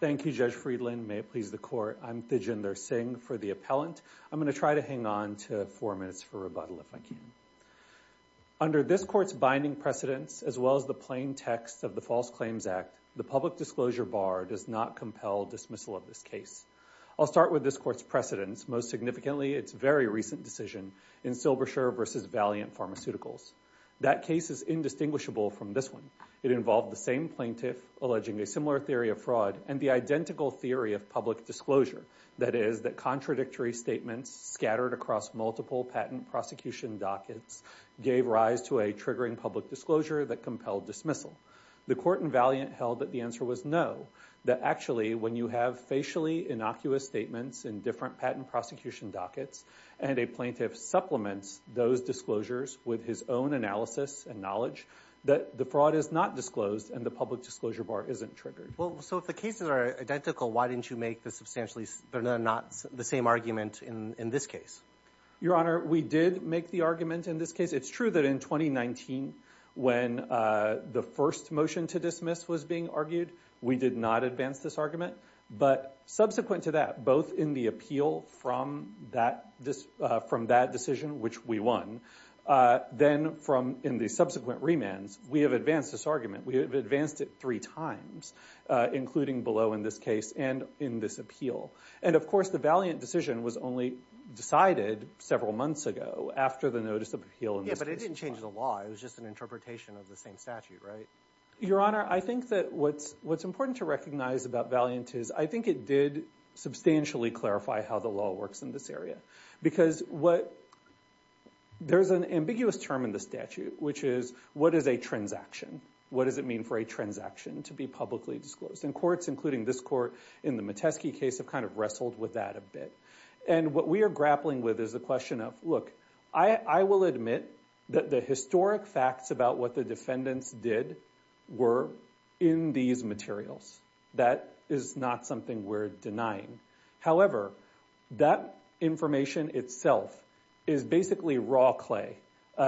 Thank you, Judge Friedland. May it please the Court. I'm Thijinder Singh for the appellant. I'm going to try to hang on to four minutes for rebuttal if I can. Under this Court's binding precedents, as well as the plain text of the False Claims Act, the public disclosure bar does not compel dismissal of this case. I'll start with this Court's precedents. Most significantly, its very recent decision in Silbersher v. Valiant Pharmaceuticals. That case is indistinguishable from this one. It involved the same plaintiff alleging a similar theory of fraud and the identical theory of public disclosure, that is, that contradictory statements scattered across multiple patent prosecution dockets gave rise to a triggering public disclosure that compelled dismissal. The Court in Valiant held that the answer was no, that actually, when you have facially innocuous statements in different patent prosecution dockets, and a plaintiff supplements those disclosures with his own analysis and knowledge, that the fraud is not disclosed and the public disclosure bar isn't triggered. Well, so if the cases are identical, why didn't you make the substantially similar, not the same argument in this case? Your Honor, we did make the argument in this case. It's true that in 2019, when the first motion to dismiss was being argued, we did not advance this argument. But subsequent to that, both in the appeal from that decision, which we won, then in the subsequent remands, we have advanced this argument. We have advanced it three times, including below in this case and in this appeal. And of course, the Valiant decision was only decided several months ago after the notice of appeal in this case. Yeah, but it didn't change the law. It was just an interpretation of the same statute, right? Your Honor, I think that what's important to recognize about Valiant is, I think it did substantially clarify how the law works in this area. Because there's an ambiguous term in the statute, which is, what is a transaction? What does it mean for a transaction to be publicly disclosed? And courts, including this court in the Metesky case, have kind of wrestled with that a bit. And what we are grappling with is the question of, look, I will admit that the historic facts about what the defendants did were in these materials. That is not something we're denying. However, that information itself is basically raw clay.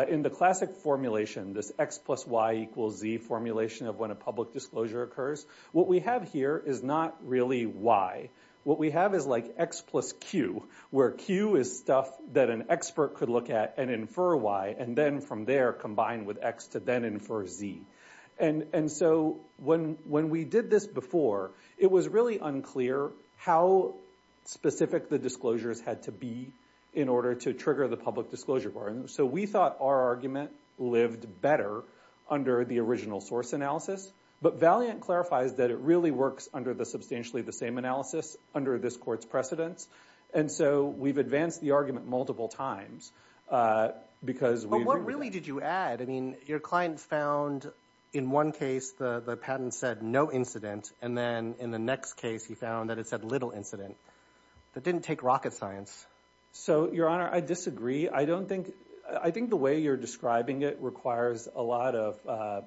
In the classic formulation, this X plus Y equals Z formulation of when a public disclosure occurs, what we have here is not really Y. What we have is like X plus Q, where Q is stuff that an expert could look at and infer Y, and then from there combine with X to then infer Z. And so when we did this before, it was really unclear how specific the disclosures had to be in order to trigger the public disclosure. So we thought our argument lived better under the original source analysis. But Valiant clarifies that it really works under the substantially the same analysis under this court's precedence. And so we've advanced the argument multiple times. But what really did you add? I mean, your client found, in one case, the patent said no incident. And then in the next case, he found that it said little incident. That didn't take rocket science. So Your Honor, I disagree. I think the way you're describing it requires a lot of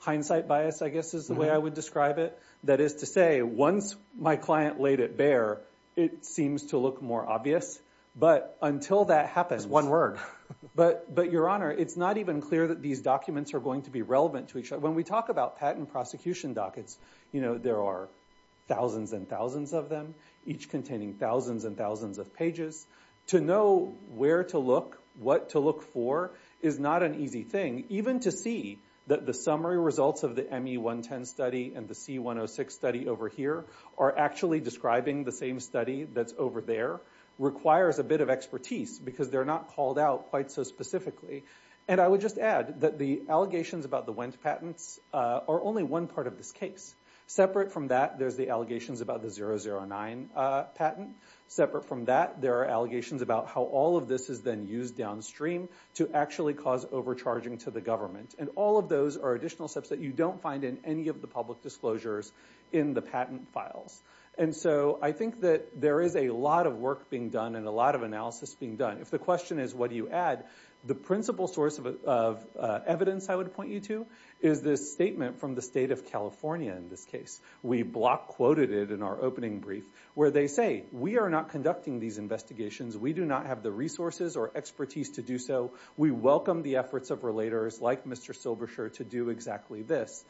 hindsight bias, I guess, is the way I would describe it. That is to say, once my client laid it bare, it seems to look more obvious. But until that happens, one word. But Your Honor, it's not even clear that these documents are going to be relevant to each other. When we talk about patent prosecution dockets, there are thousands and thousands of them, each containing thousands and thousands of pages. To know where to look, what to look for is not an easy thing, even to see that the summary results of the ME 110 study and the C106 study over here are actually describing the same study that's over there requires a bit of expertise, because they're not called out quite so specifically. And I would just add that the allegations about the Wendt patents are only one part of this case. Separate from that, there's the allegations about the 009 patent. Separate from that, there are allegations about how all of this is then used downstream to actually cause overcharging to the government. And all of those are additional steps that you don't find in any of the public disclosures in the patent files. And so I think that there is a lot of work being done and a lot of analysis being done. If the question is, what do you add, the principal source of evidence I would point you to is this statement from the state of California in this case. We block quoted it in our opening brief where they say, we are not conducting these investigations. We do not have the resources or expertise to do so. We welcome the efforts of relators like Mr. Silberscher to do exactly this.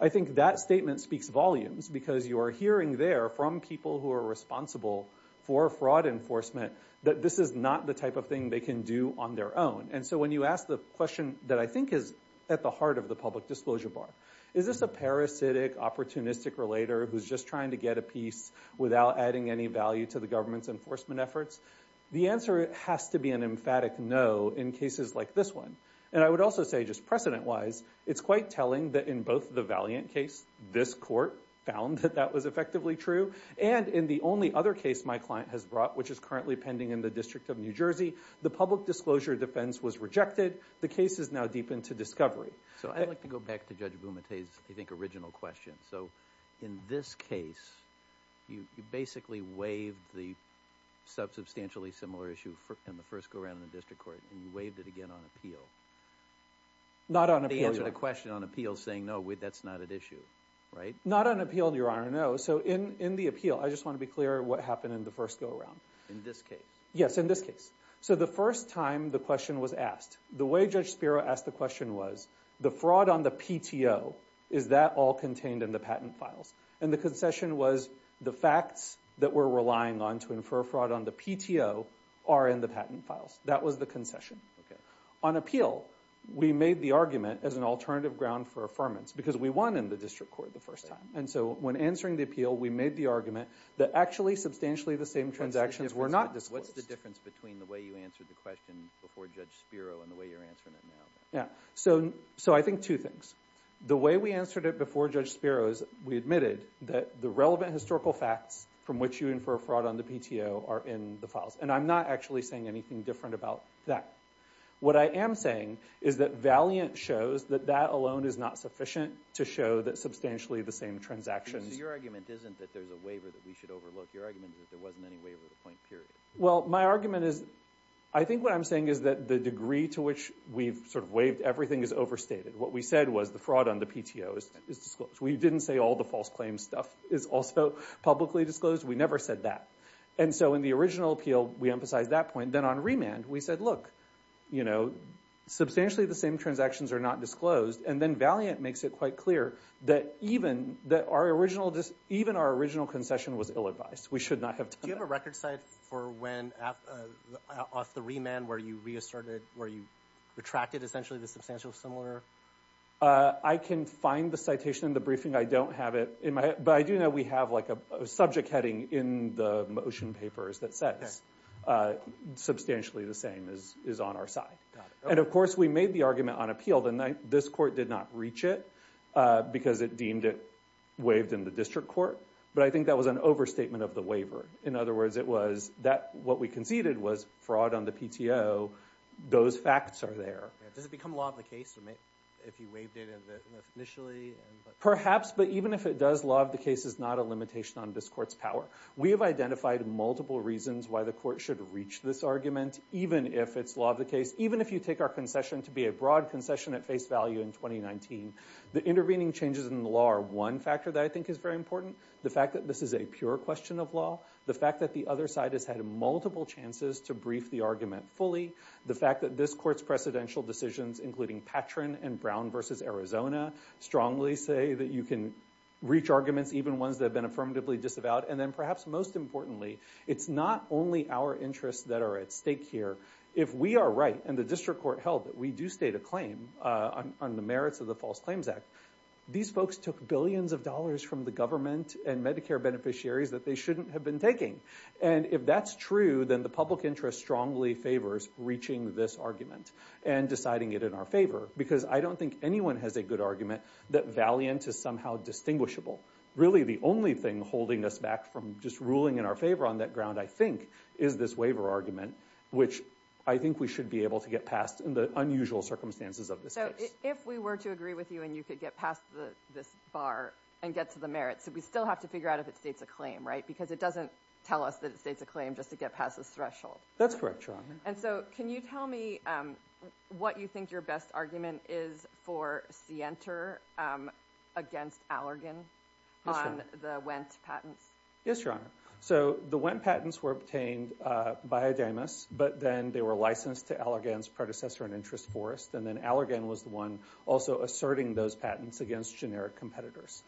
I think that statement speaks volumes, because you are hearing there from people who are responsible for fraud enforcement that this is not the type of thing they can do on their own. And so when you ask the question that I think is at the heart of the public disclosure bar, is this a parasitic, opportunistic relator who's just trying to get a piece without adding any value to the government's enforcement efforts? The answer has to be an emphatic no in cases like this one. And I would also say, just precedent-wise, it's quite telling that in both the Valiant case, this court found that that was effectively true, and in the only other case my client has brought, which is currently pending in the District of New Jersey, the public disclosure defense was rejected. The case is now deep into discovery. So I'd like to go back to Judge Bumate's, I think, original question. So in this case, you basically waived the sub-substantially similar issue in the first go-around in the District Court, and you waived it again on appeal. Not on appeal, Your Honor. They answered a question on appeal saying, no, that's not at issue, right? Not on appeal, Your Honor, no. So in the appeal, I just want to be clear what happened in the first go-around. In this case? Yes, in this case. So the first time the question was asked, the way Judge Spiro asked the question was, the fraud on the PTO, is that all contained in the patent files? And the concession was, the facts that we're relying on to infer fraud on the PTO are in the patent files. That was the concession. Okay. On appeal, we made the argument as an alternative ground for affirmance, because we won in the District Court the first time. And so when answering the appeal, we made the argument that actually, substantially the same transactions were not disclosed. What's the difference between the way you answered the question before Judge Spiro and the way you're answering it now? So I think two things. The way we answered it before Judge Spiro is, we admitted that the relevant historical facts from which you infer fraud on the PTO are in the files. And I'm not actually saying anything different about that. What I am saying is that Valiant shows that that alone is not sufficient to show that substantially the same transactions... So your argument isn't that there's a waiver that we should overlook. Your argument is that there wasn't any waiver of the point, period. Well, my argument is, I think what I'm saying is that the degree to which we've sort of waived everything is overstated. What we said was the fraud on the PTO is disclosed. We didn't say all the false claims stuff is also publicly disclosed. We never said that. And we emphasized that point. Then on remand, we said, look, substantially the same transactions are not disclosed. And then Valiant makes it quite clear that even our original concession was ill-advised. We should not have done that. Do you have a record site for when, off the remand, where you reasserted, where you retracted essentially the substantial similar? I can find the citation in the briefing. I don't have it. But I do know we have a subject heading in the motion papers that says substantially the same is on our side. And of course, we made the argument on appeal. This court did not reach it because it deemed it waived in the district court. But I think that was an overstatement of the waiver. In other words, it was that what we conceded was fraud on the PTO. Those facts are there. Does it become law of the case if you waived it initially? Perhaps. But even if it does, law of the case is not a limitation on this court's power. We have identified multiple reasons why the court should reach this argument, even if it's law of the case, even if you take our concession to be a broad concession at face value in 2019. The intervening changes in the law are one factor that I think is very important. The fact that this is a pure question of law. The fact that the other side has had multiple chances to brief the argument fully. The fact that this court's precedential decisions, including Patrin and Brown versus Arizona, strongly say that you can reach arguments, even ones that have been affirmatively disavowed. And then perhaps most importantly, it's not only our interests that are at stake here. If we are right, and the district court held that we do state a claim on the merits of the False Claims Act, these folks took billions of dollars from the government and Medicare beneficiaries that they shouldn't have been taking. And if that's true, then the public interest strongly favors reaching this argument and deciding it in our favor. Because I don't think anyone has a good argument that valiant is somehow distinguishable. Really, the only thing holding us back from just ruling in our favor on that ground, I think, is this waiver argument, which I think we should be able to get past in the unusual circumstances of this case. If we were to agree with you and you could get past this bar and get to the merits, we still have to figure out if it states a claim, right? Because it doesn't tell us that it states a claim just to get past this threshold. That's correct, Your Honor. And so, can you tell me what you think your best argument is for Sienter against Allergan on the Wendt patents? Yes, Your Honor. So, the Wendt patents were obtained by Adamus, but then they were licensed to Allergan's predecessor in interest, Forrest, and then Allergan was the one also asserting those patents against generic competitors.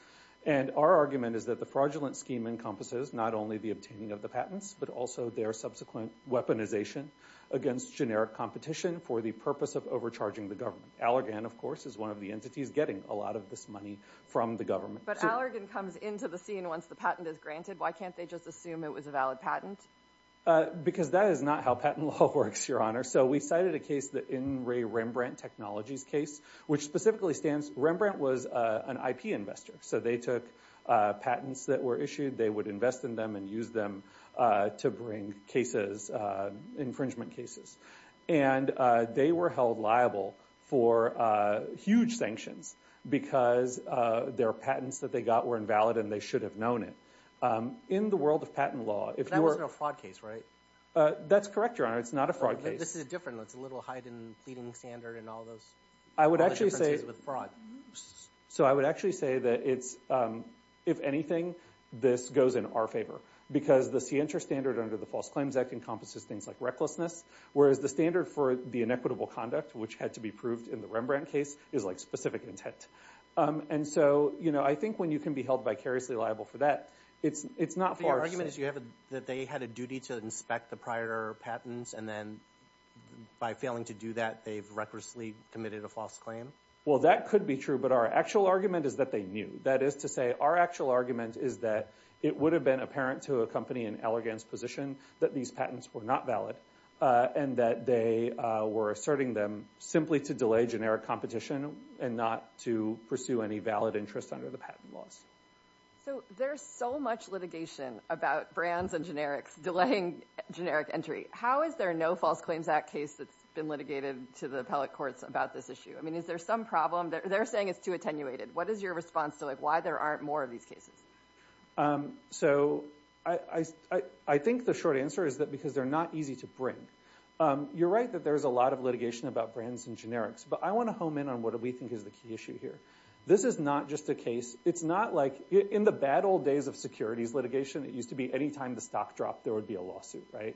And our argument is that the fraudulent scheme encompasses not only the obtaining of the patents, but also their subsequent weaponization against generic competition for the purpose of overcharging the government. Allergan, of course, is one of the entities getting a lot of this money from the government. But Allergan comes into the scene once the patent is granted. Why can't they just assume it was a valid patent? Because that is not how patent law works, Your Honor. So, we cited a case, the In Re Rembrandt Technologies case, which specifically stands, Rembrandt was an IP investor. So, they took patents that were issued, they would invest in them and use them to bring cases, infringement cases. And they were held liable for huge sanctions because their patents that they got were invalid and they should have known it. In the world of patent law, if you were- That wasn't a fraud case, right? That's correct, Your Honor. It's not a fraud case. This is different. It's a little heightened pleading standard and all those- I would actually say- All the differences with fraud. So, I would actually say that it's, if anything, this goes in our favor. Because the CINTRA standard under the False Claims Act encompasses things like recklessness, whereas the standard for the inequitable conduct, which had to be proved in the Rembrandt case, is like specific intent. And so, you know, I think when you can be held vicariously liable for that, it's not far- But your argument is that they had a duty to inspect the prior patents and then by failing to do that, they've recklessly committed a false claim? Well, that could be true, but our actual argument is that they knew. That is to say, our actual argument is that it would have been apparent to a company in Allergan's position that these patents were not valid and that they were asserting them simply to delay generic competition and not to pursue any valid interest under the patent laws. So, there's so much litigation about brands and generics delaying generic entry. How is there no False Claims Act case that's been litigated to the appellate courts about this issue? I mean, is there some problem? They're saying it's too attenuated. What is your response to like why there aren't more of these cases? So, I think the short answer is that because they're not easy to bring. You're right that there's a lot of litigation about brands and generics, but I want to home in on what we think is the key issue here. This is not just a case. It's not like in the bad old days of securities litigation, it used to be any time the stock dropped, there would be a lawsuit, right?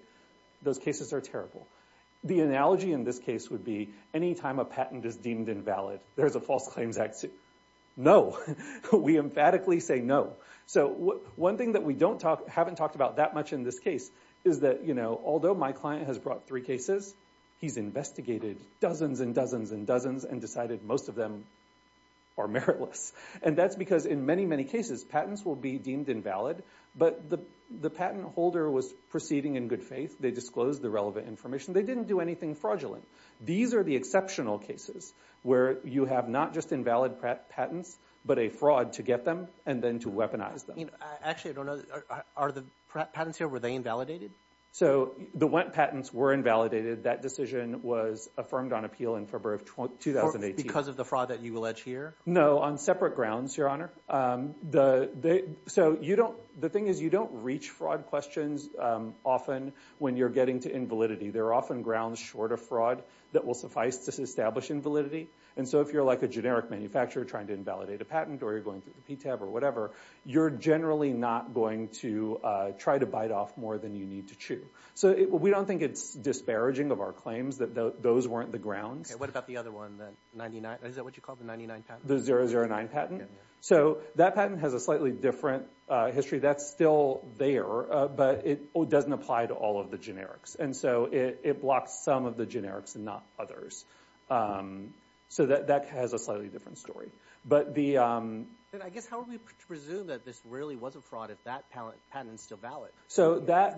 Those cases are terrible. The analogy in this case would be any time a patent is deemed invalid, there's a False Claims Act suit. No. We emphatically say no. So, one thing that we haven't talked about that much in this case is that although my client has brought three cases, he's investigated dozens and dozens and dozens and decided most of them are meritless. And that's because in many, many cases, patents will be deemed invalid, but the patent holder was proceeding in good faith. They disclosed the relevant information. They didn't do anything fraudulent. These are the exceptional cases where you have not just invalid patents, but a fraud to get them and then to weaponize them. Actually, I don't know. Are the patents here, were they invalidated? So, the patents were invalidated. That decision was affirmed on appeal in February of 2018. Because of the fraud that you allege here? No, on separate grounds, Your Honor. So, the thing is you don't reach fraud questions often when you're getting to invalidity. There are often grounds short of fraud that will suffice to establish invalidity. And so, if you're like a generic manufacturer trying to invalidate a patent or you're going through the PTAB or whatever, you're generally not going to try to bite off more than you need to chew. So, we don't think it's disparaging of our claims that those weren't the grounds. Okay. What about the other one, the 99? Is that what you call it, the 99 patent? The 009 patent? Yeah. So, that patent has a slightly different history. That's still there, but it doesn't apply to all of the generics. And so, it blocks some of the generics and not others. So, that has a slightly different story. But I guess, how would we presume that this really was a fraud if that patent is still valid?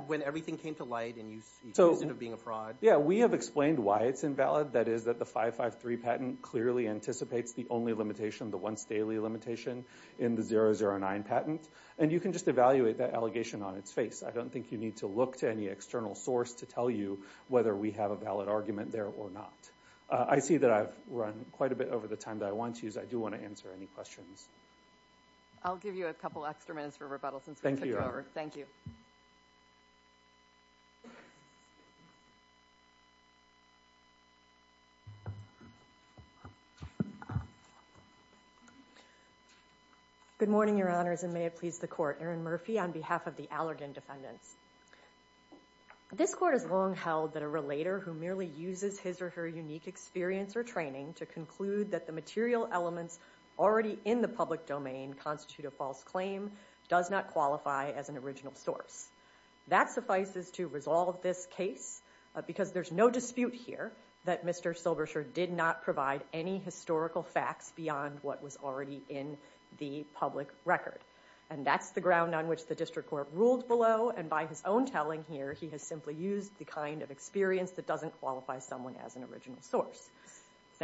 When everything came to light and you accused it of being a fraud? Yeah. We have explained why it's invalid. That is that the 553 patent clearly anticipates the only limitation, the once daily limitation in the 009 patent. And you can just evaluate that allegation on its face. I don't think you need to look to any external source to tell you whether we have a valid argument there or not. I see that I've run quite a bit over the time that I want to use. I do want to answer any questions. I'll give you a couple extra minutes for rebuttal since we took over. Thank you. Thank you. Good morning, your honors, and may it please the court. Erin Murphy on behalf of the Allergan Defendants. This court has long held that a relator who merely uses his or her unique experience or training to conclude that the material elements already in the public domain constitute a false claim does not qualify as an original source. That suffices to resolve this case because there's no dispute here that Mr. Silberscher did not provide any historical facts beyond what was already in the public record. And that's the ground on which the district court ruled below. And by his own telling here, he has simply used the kind of experience that doesn't qualify someone as an original source.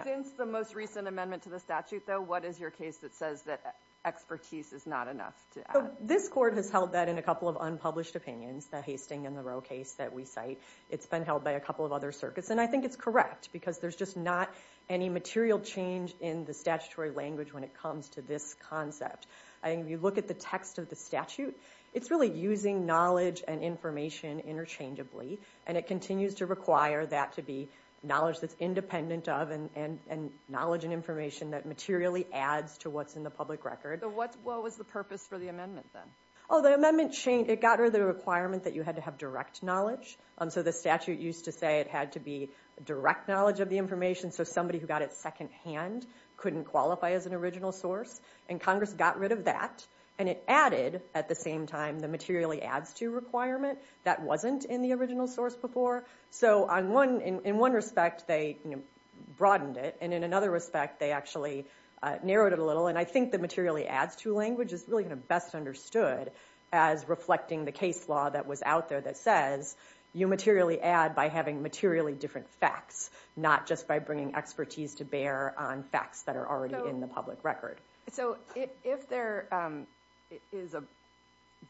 Since the most recent amendment to the statute, though, what is your case that says that X expertise is not enough to add? This court has held that in a couple of unpublished opinions, the Hastings and the Roe case that we cite. It's been held by a couple of other circuits. And I think it's correct because there's just not any material change in the statutory language when it comes to this concept. I think if you look at the text of the statute, it's really using knowledge and information interchangeably. And it continues to require that to be knowledge that's independent of and knowledge and information that materially adds to what's in the public record. So what was the purpose for the amendment then? Oh, the amendment changed. It got rid of the requirement that you had to have direct knowledge. So the statute used to say it had to be direct knowledge of the information so somebody who got it second hand couldn't qualify as an original source. And Congress got rid of that. And it added, at the same time, the materially adds to requirement that wasn't in the original source before. So in one respect, they broadened it. And in another respect, they actually narrowed it a little. And I think the materially adds to language is really going to be best understood as reflecting the case law that was out there that says you materially add by having materially different facts, not just by bringing expertise to bear on facts that are already in the public record. So if there is a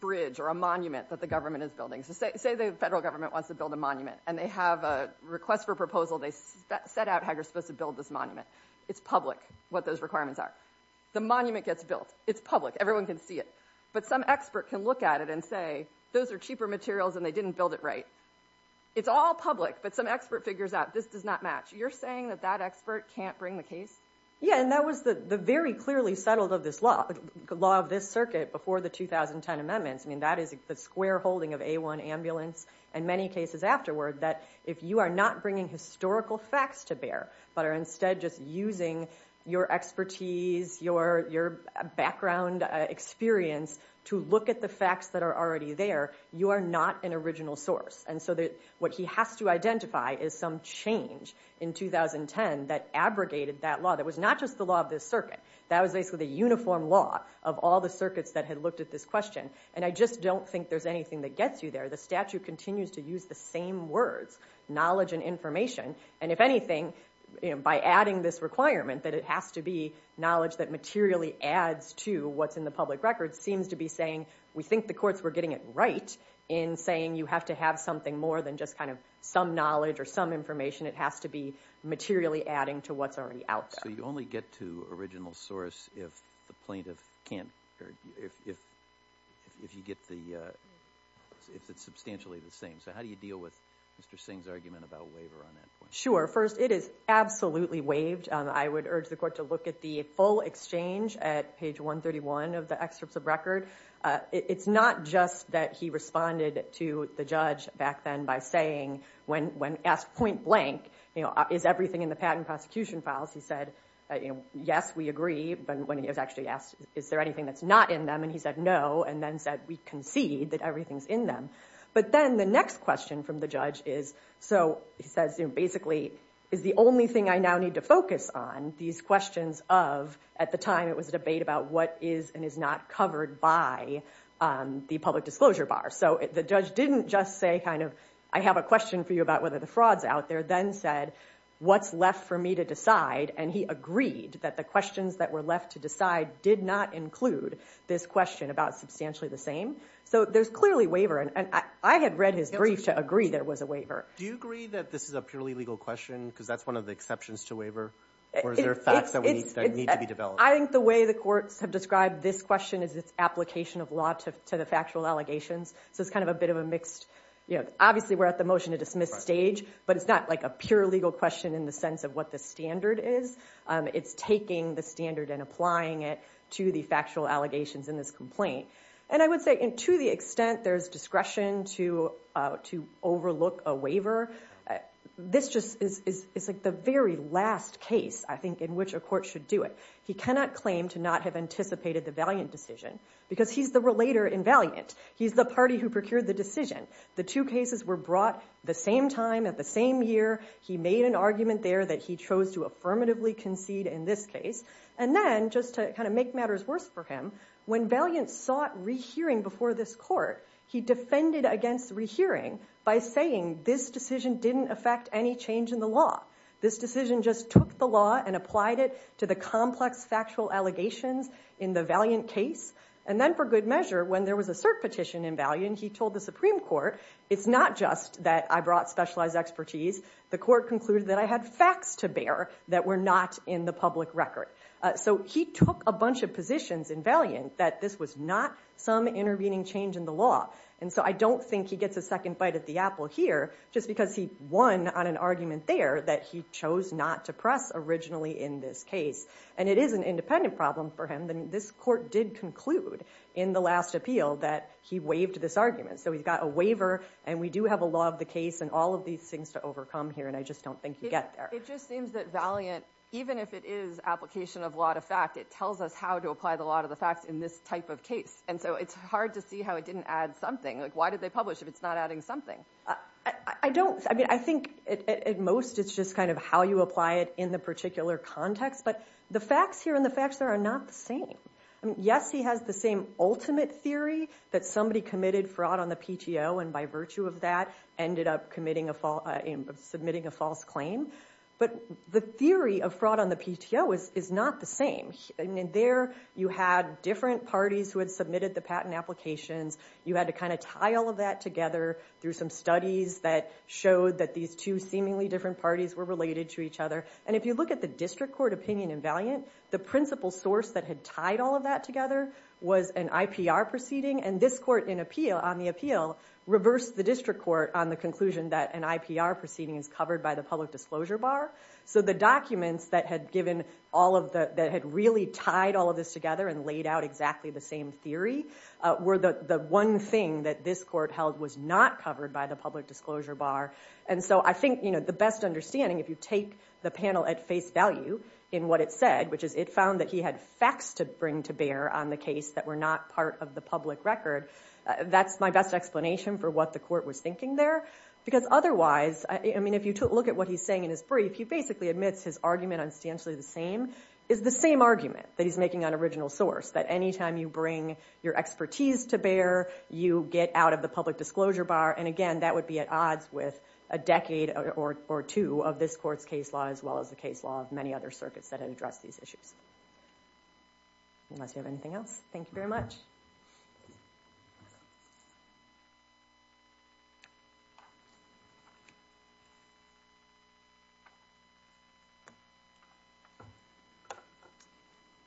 bridge or a monument that the government is building, so say the federal government wants to build a monument. And they have a request for proposal. They set out how you're supposed to build this monument. It's public, what those requirements are. The monument gets built. It's public. Everyone can see it. But some expert can look at it and say, those are cheaper materials and they didn't build it right. It's all public, but some expert figures out this does not match. You're saying that that expert can't bring the case? Yeah. And that was the very clearly settled law of this circuit before the 2010 amendments. I mean, that is the square holding of A1 ambulance and many cases afterward that if you are not bringing historical facts to bear, but are instead just using your expertise, your background experience, to look at the facts that are already there, you are not an original source. And so what he has to identify is some change in 2010 that abrogated that law that was not just the law of this circuit. That was basically the uniform law of all the circuits that had looked at this question. And I just don't think there's anything that gets you there. The statute continues to use the same words, knowledge and information. And if anything, by adding this requirement that it has to be knowledge that materially adds to what's in the public record seems to be saying, we think the courts were getting it right in saying you have to have something more than just kind of some knowledge or some information. It has to be materially adding to what's already out there. So you only get to original source if the plaintiff can't, or if you get the, if it's the right source. And so I think that's where we have to deal with Mr. Singh's argument about waiver on that point. Sure. First, it is absolutely waived. I would urge the court to look at the full exchange at page 131 of the excerpts of record. It's not just that he responded to the judge back then by saying, when asked point blank, you know, is everything in the patent prosecution files, he said, you know, yes, we agree. But when he was actually asked, is there anything that's not in them, and he said no, and then said we concede that everything's in them. But then the next question from the judge is, so he says, you know, basically, is the only thing I now need to focus on these questions of, at the time it was a debate about what is and is not covered by the public disclosure bar. So the judge didn't just say kind of, I have a question for you about whether the fraud's out there, then said, what's left for me to decide? And he agreed that the questions that were left to decide did not include this question about substantially the same. So there's clearly waiver, and I had read his brief to agree there was a waiver. Do you agree that this is a purely legal question, because that's one of the exceptions to waiver? Or is there facts that need to be developed? I think the way the courts have described this question is its application of law to the factual allegations. So it's kind of a bit of a mixed, you know, obviously we're at the motion to dismiss stage, but it's not like a pure legal question in the sense of what the standard is. It's taking the standard and applying it to the factual allegations in this complaint. And I would say to the extent there's discretion to overlook a waiver, this just is the very last case, I think, in which a court should do it. He cannot claim to not have anticipated the valiant decision, because he's the relator in valiant. He's the party who procured the decision. The two cases were brought the same time, at the same year. He made an argument there that he chose to affirmatively concede in this case. And then, just to kind of make matters worse for him, when valiant sought rehearing before this court, he defended against rehearing by saying this decision didn't affect any change in the law. This decision just took the law and applied it to the complex factual allegations in the valiant case. And then, for good measure, when there was a cert petition in valiant, he told the Supreme Court, it's not just that I brought specialized expertise. The court concluded that I had facts to bear that were not in the public record. So he took a bunch of positions in valiant that this was not some intervening change in the law. And so I don't think he gets a second bite at the apple here, just because he won on an argument there that he chose not to press originally in this case. And it is an independent problem for him. This court did conclude in the last appeal that he waived this argument. So he's got a waiver, and we do have a law of the case, and all of these things to overcome here. And I just don't think you get there. It just seems that valiant, even if it is application of law to fact, it tells us how to apply the law to the facts in this type of case. And so it's hard to see how it didn't add something. Like, why did they publish if it's not adding something? I don't. I mean, I think at most, it's just kind of how you apply it in the particular context. But the facts here and the facts there are not the same. Yes, he has the same ultimate theory that somebody committed fraud on the PTO, and by virtue of that, ended up submitting a false claim. But the theory of fraud on the PTO is not the same. I mean, there you had different parties who had submitted the patent applications. You had to kind of tie all of that together through some studies that showed that these two seemingly different parties were related to each other. And if you look at the district court opinion in valiant, the principal source that had tied all of that together was an IPR proceeding. And this court on the appeal reversed the district court on the conclusion that an IPR proceeding is covered by the public disclosure bar. So the documents that had really tied all of this together and laid out exactly the same theory were the one thing that this court held was not covered by the public disclosure bar. And so I think the best understanding, if you take the panel at face value in what it said, which is it found that he had facts to bring to bear on the case that were not part of the public record, that's my best explanation for what the court was thinking there. Because otherwise, I mean, if you look at what he's saying in his brief, he basically admits his argument on substantially the same, is the same argument that he's making on original source, that any time you bring your expertise to bear, you get out of the public disclosure bar. And again, that would be at odds with a decade or two of this court's case law as well as the case law of many other circuits that had addressed these issues. Unless you have anything else. Thank you very much.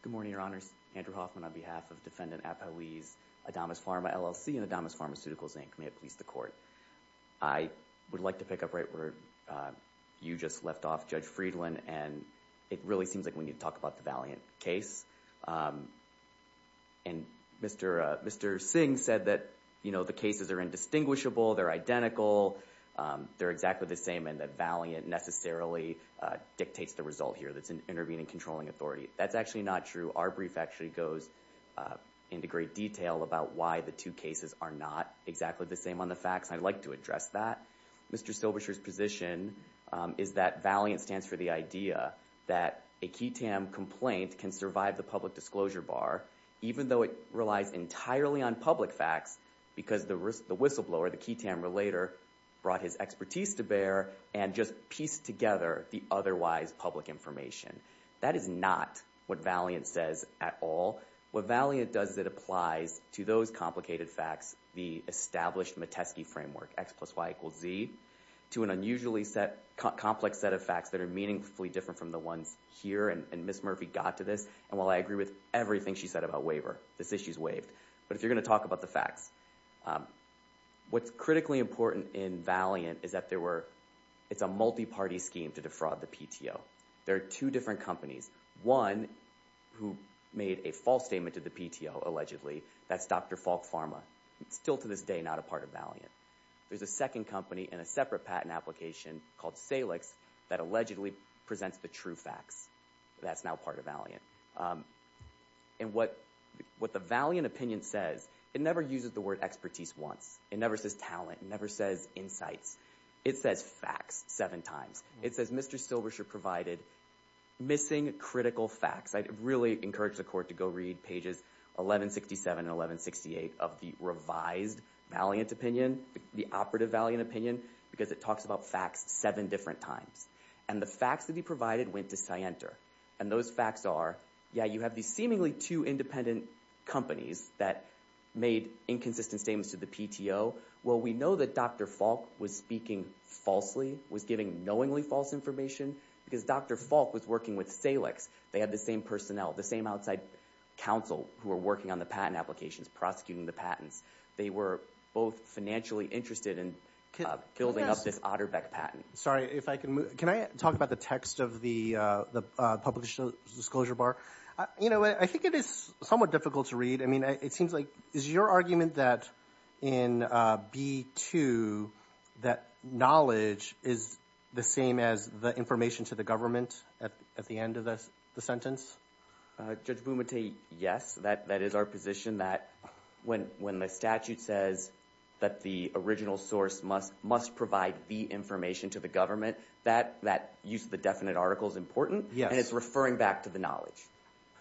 Good morning, Your Honors. Andrew Hoffman on behalf of Defendant Apoe's Adamus Pharma LLC and Adamus Pharmaceuticals Inc. May it please the court. I would like to pick up right where you just left off, Judge Friedland, and it really seems like we need to talk about the Valiant case. And Mr. Singh said that, you know, the cases are indistinguishable, they're identical, they're exactly the same, and that Valiant necessarily dictates the result here, that's an intervening controlling authority. That's actually not true. Our brief actually goes into great detail about why the two cases are not exactly the same on the facts, and I'd like to address that. Mr. Silberscher's position is that Valiant stands for the idea that a QTAM complaint can survive the public disclosure bar even though it relies entirely on public facts because the whistleblower, the QTAM relator, brought his expertise to bear and just pieced together the otherwise public information. That is not what Valiant says at all. What Valiant does is it applies to those complicated facts the established Matesky framework, X plus Y equals Z, to an unusually complex set of facts that are meaningfully different from the ones here, and Ms. Murphy got to this, and while I agree with everything she said about waiver, this issue's waived. But if you're going to talk about the facts, what's critically important in Valiant is that there were, it's a multi-party scheme to defraud the PTO. There are two different companies, one who made a false statement to the PTO, allegedly, that's Dr. Falk Pharma. It's still to this day not a part of Valiant. There's a second company in a separate patent application called Salix that allegedly presents the true facts. That's now part of Valiant. And what the Valiant opinion says, it never uses the word expertise once. It never says talent. It never says insights. It says facts seven times. It says Mr. Silberscher provided missing critical facts. I'd really encourage the court to go read pages 1167 and 1168 of the revised Valiant opinion, the operative Valiant opinion, because it talks about facts seven different times. And the facts that he provided went to Sienter. And those facts are, yeah, you have these seemingly two independent companies that made inconsistent statements to the PTO. Well, we know that Dr. Falk was speaking falsely, was giving knowingly false information, because Dr. Falk was working with Salix. They had the same personnel, the same outside counsel who were working on the patent applications, prosecuting the patents. They were both financially interested in building up this Otterbeck patent. Sorry, if I can move. Can I talk about the text of the public disclosure bar? You know, I think it is somewhat difficult to read. I mean, it seems like, is your argument that in B2, that knowledge is the same as the information to the government at the end of the sentence? Judge Bumate, yes. That is our position, that when the statute says that the original source must provide the information to the government, that use of the definite article is important. Yes. And it's referring back to the knowledge.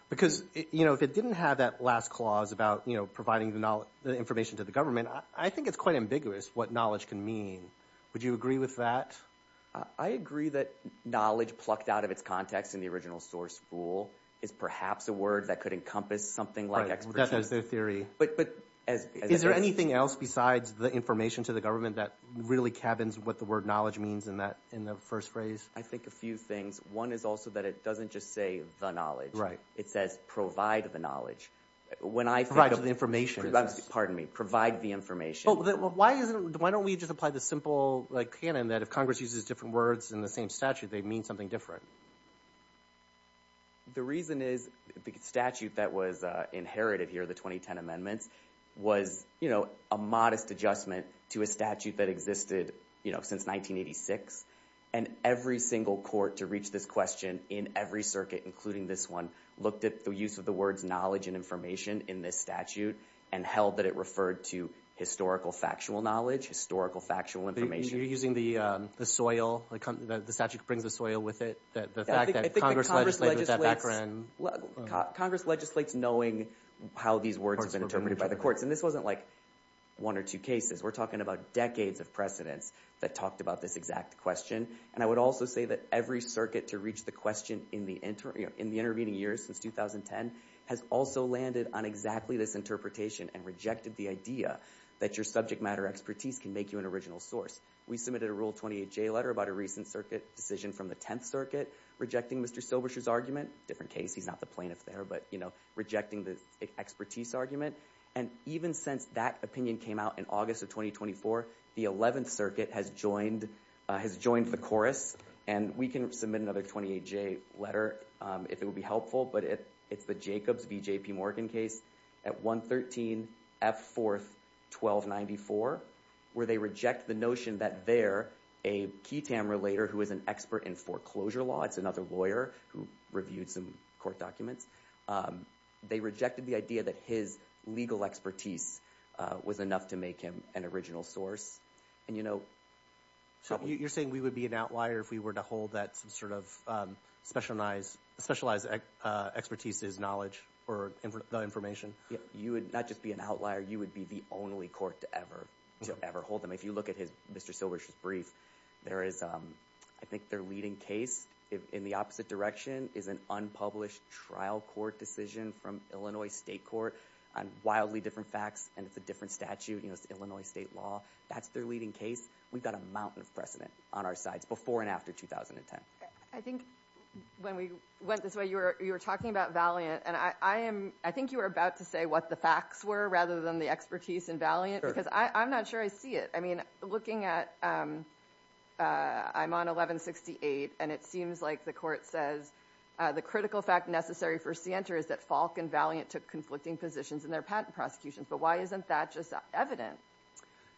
Because, you know, if it didn't have that last clause about, you know, providing the information to the government, I think it's quite ambiguous what knowledge can mean. Would you agree with that? I agree that knowledge plucked out of its context in the original source rule is perhaps a word that could encompass something like expertise. Right. That's their theory. Is there anything else besides the information to the government that really cabins what the word knowledge means in the first phrase? I think a few things. One is also that it doesn't just say the knowledge. Right. It says provide the knowledge. When I think of Provide the information. Pardon me. Provide the information. Why don't we just apply the simple, like, canon that if Congress uses different words in the same statute, they mean something different? The reason is the statute that was inherited here, the 2010 amendments, was, you know, a modest adjustment to a statute that existed, you know, since 1986. And every single court to reach this question in every circuit, including this one, looked at the use of the words knowledge and information in this statute and held that it referred to historical factual knowledge, historical factual information. You're using the soil, the statute brings the soil with it, the fact that Congress legislated that background. I think Congress legislates knowing how these words have been interpreted by the courts. And this wasn't like one or two cases. We're talking about decades of precedents that talked about this exact question. And I would also say that every circuit to reach the question in the intervening years since 2010 has also landed on exactly this interpretation and rejected the idea that your subject matter expertise can make you an original source. We submitted a Rule 28J letter about a recent circuit decision from the 10th Circuit rejecting Mr. Silberscher's argument. Different case. He's not the plaintiff there, but, you know, rejecting the expertise argument. And even since that opinion came out in August of 2024, the 11th Circuit has joined the chorus. And we can submit another 28J letter if it would be helpful. But it's the Jacobs v. J.P. Morgan case at 113 F. 4th, 1294, where they reject the notion that there, a key tamer later who is an expert in foreclosure law, it's another lawyer who reviewed some court documents, they rejected the idea that his legal expertise was enough to make him an original source. And, you know... So, you're saying we would be an outlier if we were to hold that some sort of specialized expertise is knowledge or the information? You would not just be an outlier. You would be the only court to ever hold them. If you look at Mr. Silberscher's brief, there is, I think their leading case in the opposite direction is an unpublished trial court decision from Illinois State Court on wildly different facts and it's a different statute, you know, it's Illinois state law. That's their leading case. We've got a mountain of precedent on our sides before and after 2010. I think when we went this way, you were talking about Valiant and I am, I think you were about to say what the facts were rather than the expertise in Valiant because I'm not sure I see it. I mean, looking at, I'm on 1168 and it seems like the court says the critical fact necessary for Sienta is that Falk and Valiant took conflicting positions in their patent prosecutions. But why isn't that just evident?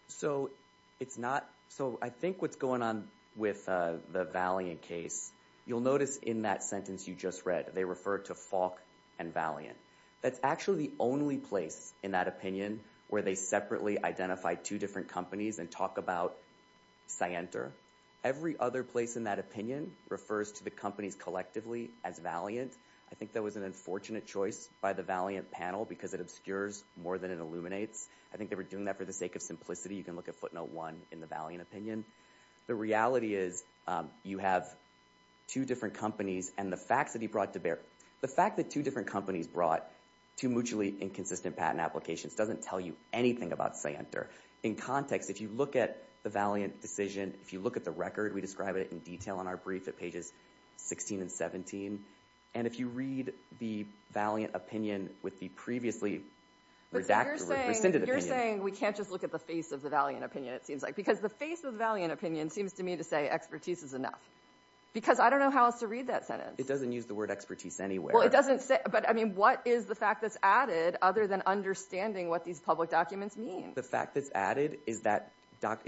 So it's not, so I think what's going on with the Valiant case, you'll notice in that sentence you just read, they refer to Falk and Valiant. That's actually the only place in that opinion where they separately identify two different companies and talk about Sienta. Every other place in that opinion refers to the companies collectively as Valiant. I think that was an unfortunate choice by the Valiant panel because it obscures more than it illuminates. I think they were doing that for the sake of simplicity. You can look at footnote one in the Valiant opinion. The reality is you have two different companies and the facts that he brought to bear. The fact that two different companies brought two mutually inconsistent patent applications doesn't tell you anything about Sienta. In context, if you look at the Valiant decision, if you look at the record, we describe it in detail in our brief at pages 16 and 17, and if you read the Valiant opinion with the previously redacted or rescinded opinion. You're saying we can't just look at the face of the Valiant opinion, it seems like. Because the face of the Valiant opinion seems to me to say expertise is enough. Because I don't know how else to read that sentence. It doesn't use the word expertise anywhere. Well, it doesn't say. But I mean, what is the fact that's added other than understanding what these public documents mean? The fact that's added is that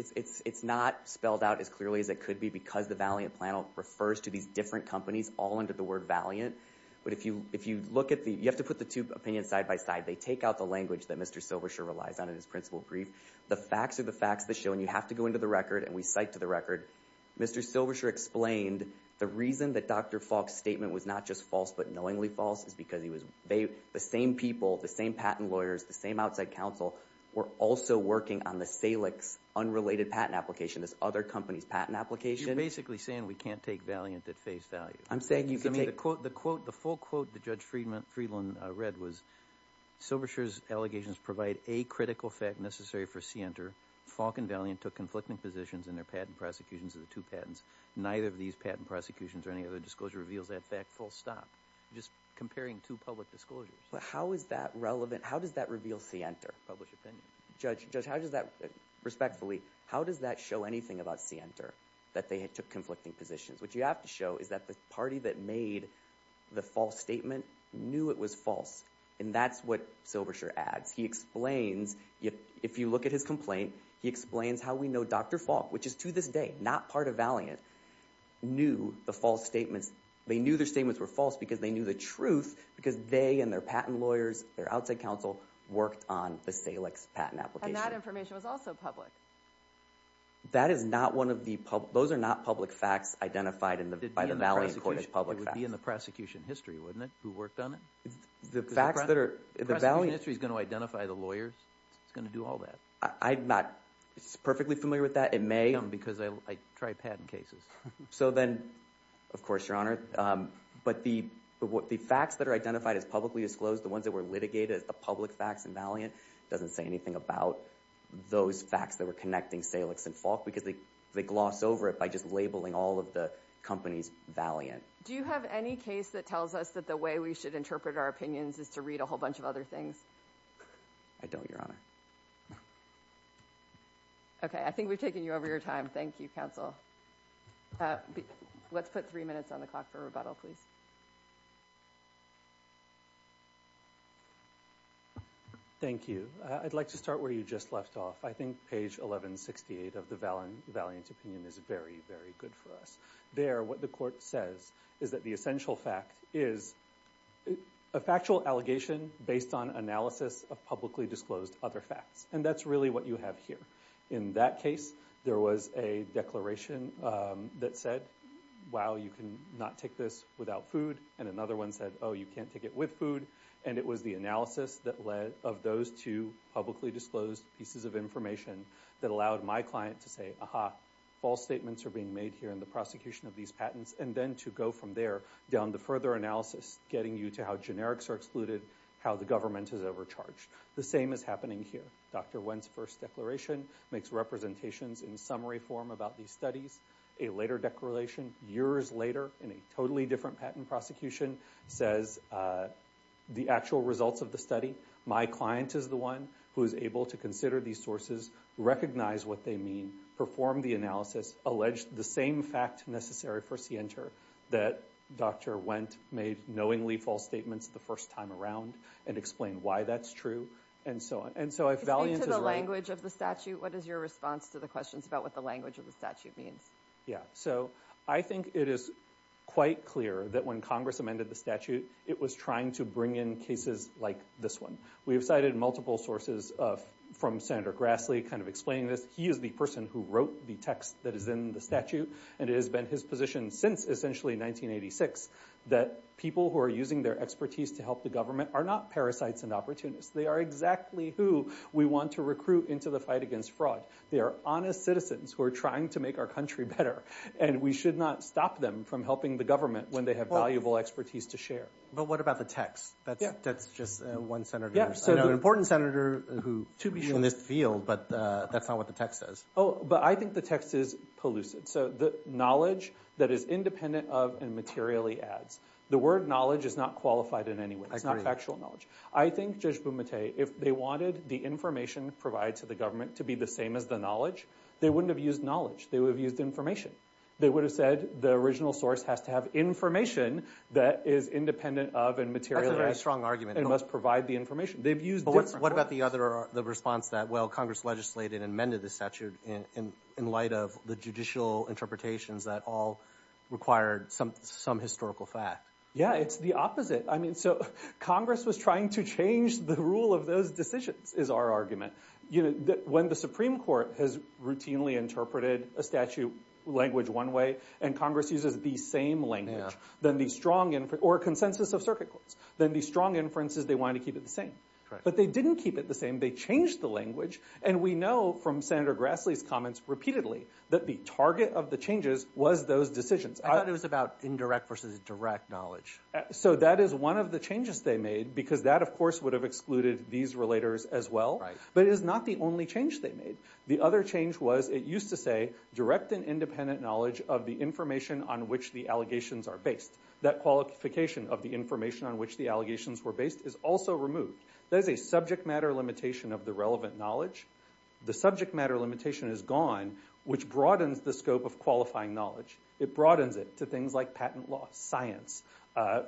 it's not spelled out as clearly as it could be because the Valiant panel refers to these different companies all under the word Valiant. But if you look at the, you have to put the two opinions side by side, they take out the language that Mr. Silversher relies on in his principle brief. The facts are the facts of the show, and you have to go into the record, and we cite to the record, Mr. Silversher explained the reason that Dr. Falk's statement was not just false but knowingly false is because the same people, the same patent lawyers, the same outside counsel were also working on the Salix unrelated patent application, this other company's patent application. You're basically saying we can't take Valiant at face value. I'm saying you can take. The quote, the full quote that Judge Friedland read was, Silversher's allegations provide a critical fact necessary for Sienter, Falk and Valiant took conflicting positions in their patent prosecutions of the two patents, neither of these patent prosecutions or any other disclosure reveals that fact full stop. Just comparing two public disclosures. How is that relevant? How does that reveal Sienter? Publish opinion. Judge, how does that, respectfully, how does that show anything about Sienter that they took conflicting positions? What you have to show is that the party that made the false statement knew it was false and that's what Silversher adds. He explains, if you look at his complaint, he explains how we know Dr. Falk, which is to this day not part of Valiant, knew the false statements. They knew their statements were false because they knew the truth because they and their patent lawyers, their outside counsel worked on the Salix patent application. And that information was also public. That is not one of the public, those are not public facts identified by the Valiant court as public facts. It would be in the prosecution history, wouldn't it, who worked on it? The facts that are, the Valiant. The prosecution history is going to identify the lawyers, it's going to do all that. I'm not perfectly familiar with that. It may. No, because I try patent cases. So then, of course, Your Honor, but the facts that are identified as publicly disclosed, the ones that were litigated as the public facts in Valiant doesn't say anything about those facts that were connecting Salix and Falk because they gloss over it by just labeling all of the companies Valiant. Do you have any case that tells us that the way we should interpret our opinions is to read a whole bunch of other things? I don't, Your Honor. Okay, I think we've taken you over your time. Thank you, counsel. Let's put three minutes on the clock for rebuttal, please. Thank you. I'd like to start where you just left off. I think page 1168 of the Valiant opinion is very, very good for us. There, what the court says is that the essential fact is a factual allegation based on analysis of publicly disclosed other facts. And that's really what you have here. In that case, there was a declaration that said, wow, you cannot take this without food. And another one said, oh, you can't take it with food. And it was the analysis of those two publicly disclosed pieces of information that allowed my client to say, aha, false statements are being made here in the prosecution of these patents, and then to go from there down to further analysis, getting you to how generics are excluded, how the government is overcharged. The same is happening here. Dr. Wendt's first declaration makes representations in summary form about these studies. A later declaration, years later, in a totally different patent prosecution, says the actual results of the study, my client is the one who is able to consider these sources, recognize what they mean, perform the analysis, allege the same fact necessary for Sienter that Dr. Wendt made knowingly false statements the first time around, and explain why that's true, and so on. And so if Valiant is wrong- Speak to the language of the statute. What is your response to the questions about what the language of the statute means? Yeah. So I think it is quite clear that when Congress amended the statute, it was trying to bring in cases like this one. We have cited multiple sources from Senator Grassley kind of explaining this. He is the person who wrote the text that is in the statute, and it has been his position since essentially 1986 that people who are using their expertise to help the government are not parasites and opportunists. They are exactly who we want to recruit into the fight against fraud. They are honest citizens who are trying to make our country better, and we should not stop them from helping the government when they have valuable expertise to share. But what about the text? Yeah. That's just one senator. Yeah. So- I know an important senator who- To be sure. In this field, but that's not what the text says. Oh. But I think the text is pellucid. So the knowledge that is independent of and materially adds. The word knowledge is not qualified in any way. I agree. It's not factual knowledge. I think, Judge Bumate, if they wanted the information provided to the government to be the same as the knowledge, they wouldn't have used knowledge. They would have used information. They would have said the original source has to have information that is independent of and materially- That's a very strong argument. And must provide the information. They've used different- But what about the response that, well, Congress legislated and amended the statute in light of the judicial interpretations that all required some historical fact? Yeah. It's the opposite. I mean, so Congress was trying to change the rule of those decisions, is our argument. When the Supreme Court has routinely interpreted a statute language one way, and Congress uses the same language, or consensus of circuit courts, then the strong inference is they wanted to keep it the same. Correct. But they didn't keep it the same. They changed the language. And we know from Senator Grassley's comments repeatedly that the target of the changes was those decisions. I thought it was about indirect versus direct knowledge. So that is one of the changes they made, because that, of course, would have excluded these relators as well. Right. But it is not the only change they made. The other change was it used to say direct and independent knowledge of the information on which the allegations are based. That qualification of the information on which the allegations were based is also removed. That is a subject matter limitation of the relevant knowledge. The subject matter limitation is gone, which broadens the scope of qualifying knowledge. It broadens it to things like patent law, science,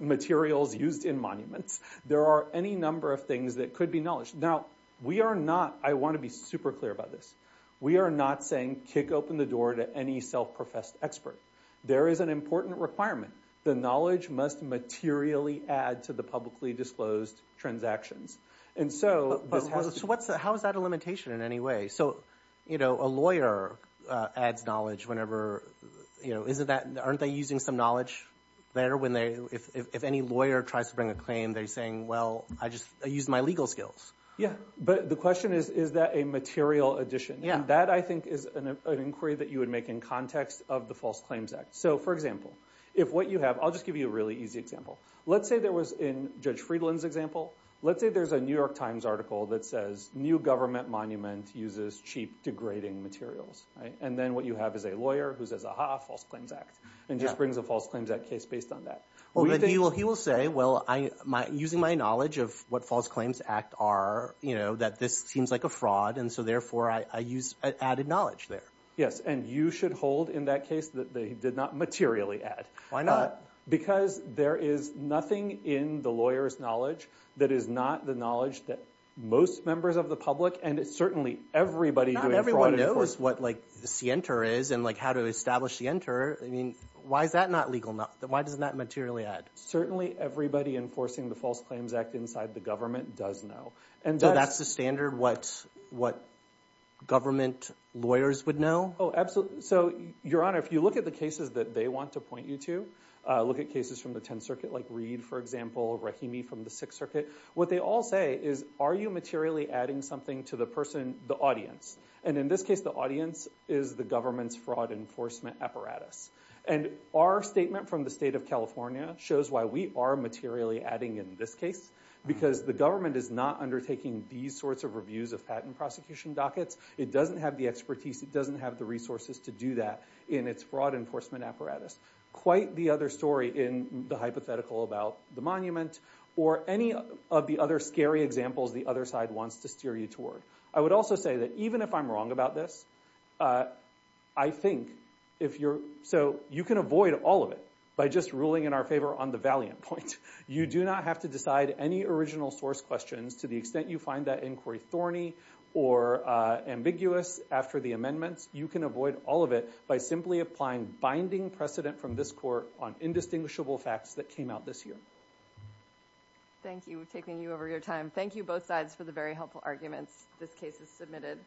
materials used in monuments. There are any number of things that could be knowledge. Now, we are not, I want to be super clear about this, we are not saying kick open the door to any self-professed expert. There is an important requirement. The knowledge must materially add to the publicly disclosed transactions. And so, this has to be. How is that a limitation in any way? So, you know, a lawyer adds knowledge whenever, you know, isn't that, aren't they using some knowledge there when they, if any lawyer tries to bring a claim, they're saying, well, I just used my legal skills. Yeah. But the question is, is that a material addition? Yeah. That, I think, is an inquiry that you would make in context of the False Claims Act. So, for example, if what you have, I'll just give you a really easy example. Let's say there was, in Judge Friedland's example, let's say there's a New York Times article that says, new government monument uses cheap degrading materials. And then what you have is a lawyer who says, aha, False Claims Act, and just brings a False Claims Act case based on that. Well, he will say, well, using my knowledge of what False Claims Act are, you know, that this seems like a fraud, and so, therefore, I use added knowledge there. Yes. And you should hold in that case that they did not materially add. Why not? Because there is nothing in the lawyer's knowledge that is not the knowledge that most members of the public, and it's certainly everybody doing fraud and enforcement. Not everyone knows what, like, the scienter is and, like, how to establish scienter. I mean, why is that not legal? Why doesn't that materially add? Certainly everybody enforcing the False Claims Act inside the government does know. And that's the standard what government lawyers would know? Oh, absolutely. So, Your Honor, if you look at the cases that they want to point you to, look at cases from the Tenth Circuit, like Reed, for example, Rahimi from the Sixth Circuit, what they all say is, are you materially adding something to the person, the audience? And in this case, the audience is the government's fraud enforcement apparatus. And our statement from the state of California shows why we are materially adding in this case, because the government is not undertaking these sorts of reviews of patent prosecution dockets. It doesn't have the expertise. It doesn't have the resources to do that in its fraud enforcement apparatus. Quite the other story in the hypothetical about the monument or any of the other scary examples the other side wants to steer you toward. I would also say that even if I'm wrong about this, I think if you're – so you can avoid all of it by just ruling in our favor on the valiant point. You do not have to decide any original source questions to the extent you find that inquiry thorny or ambiguous after the amendments. You can avoid all of it by simply applying binding precedent from this court on indistinguishable facts that came out this year. Thank you. We're taking you over your time. Thank you, both sides, for the very helpful arguments this case has submitted.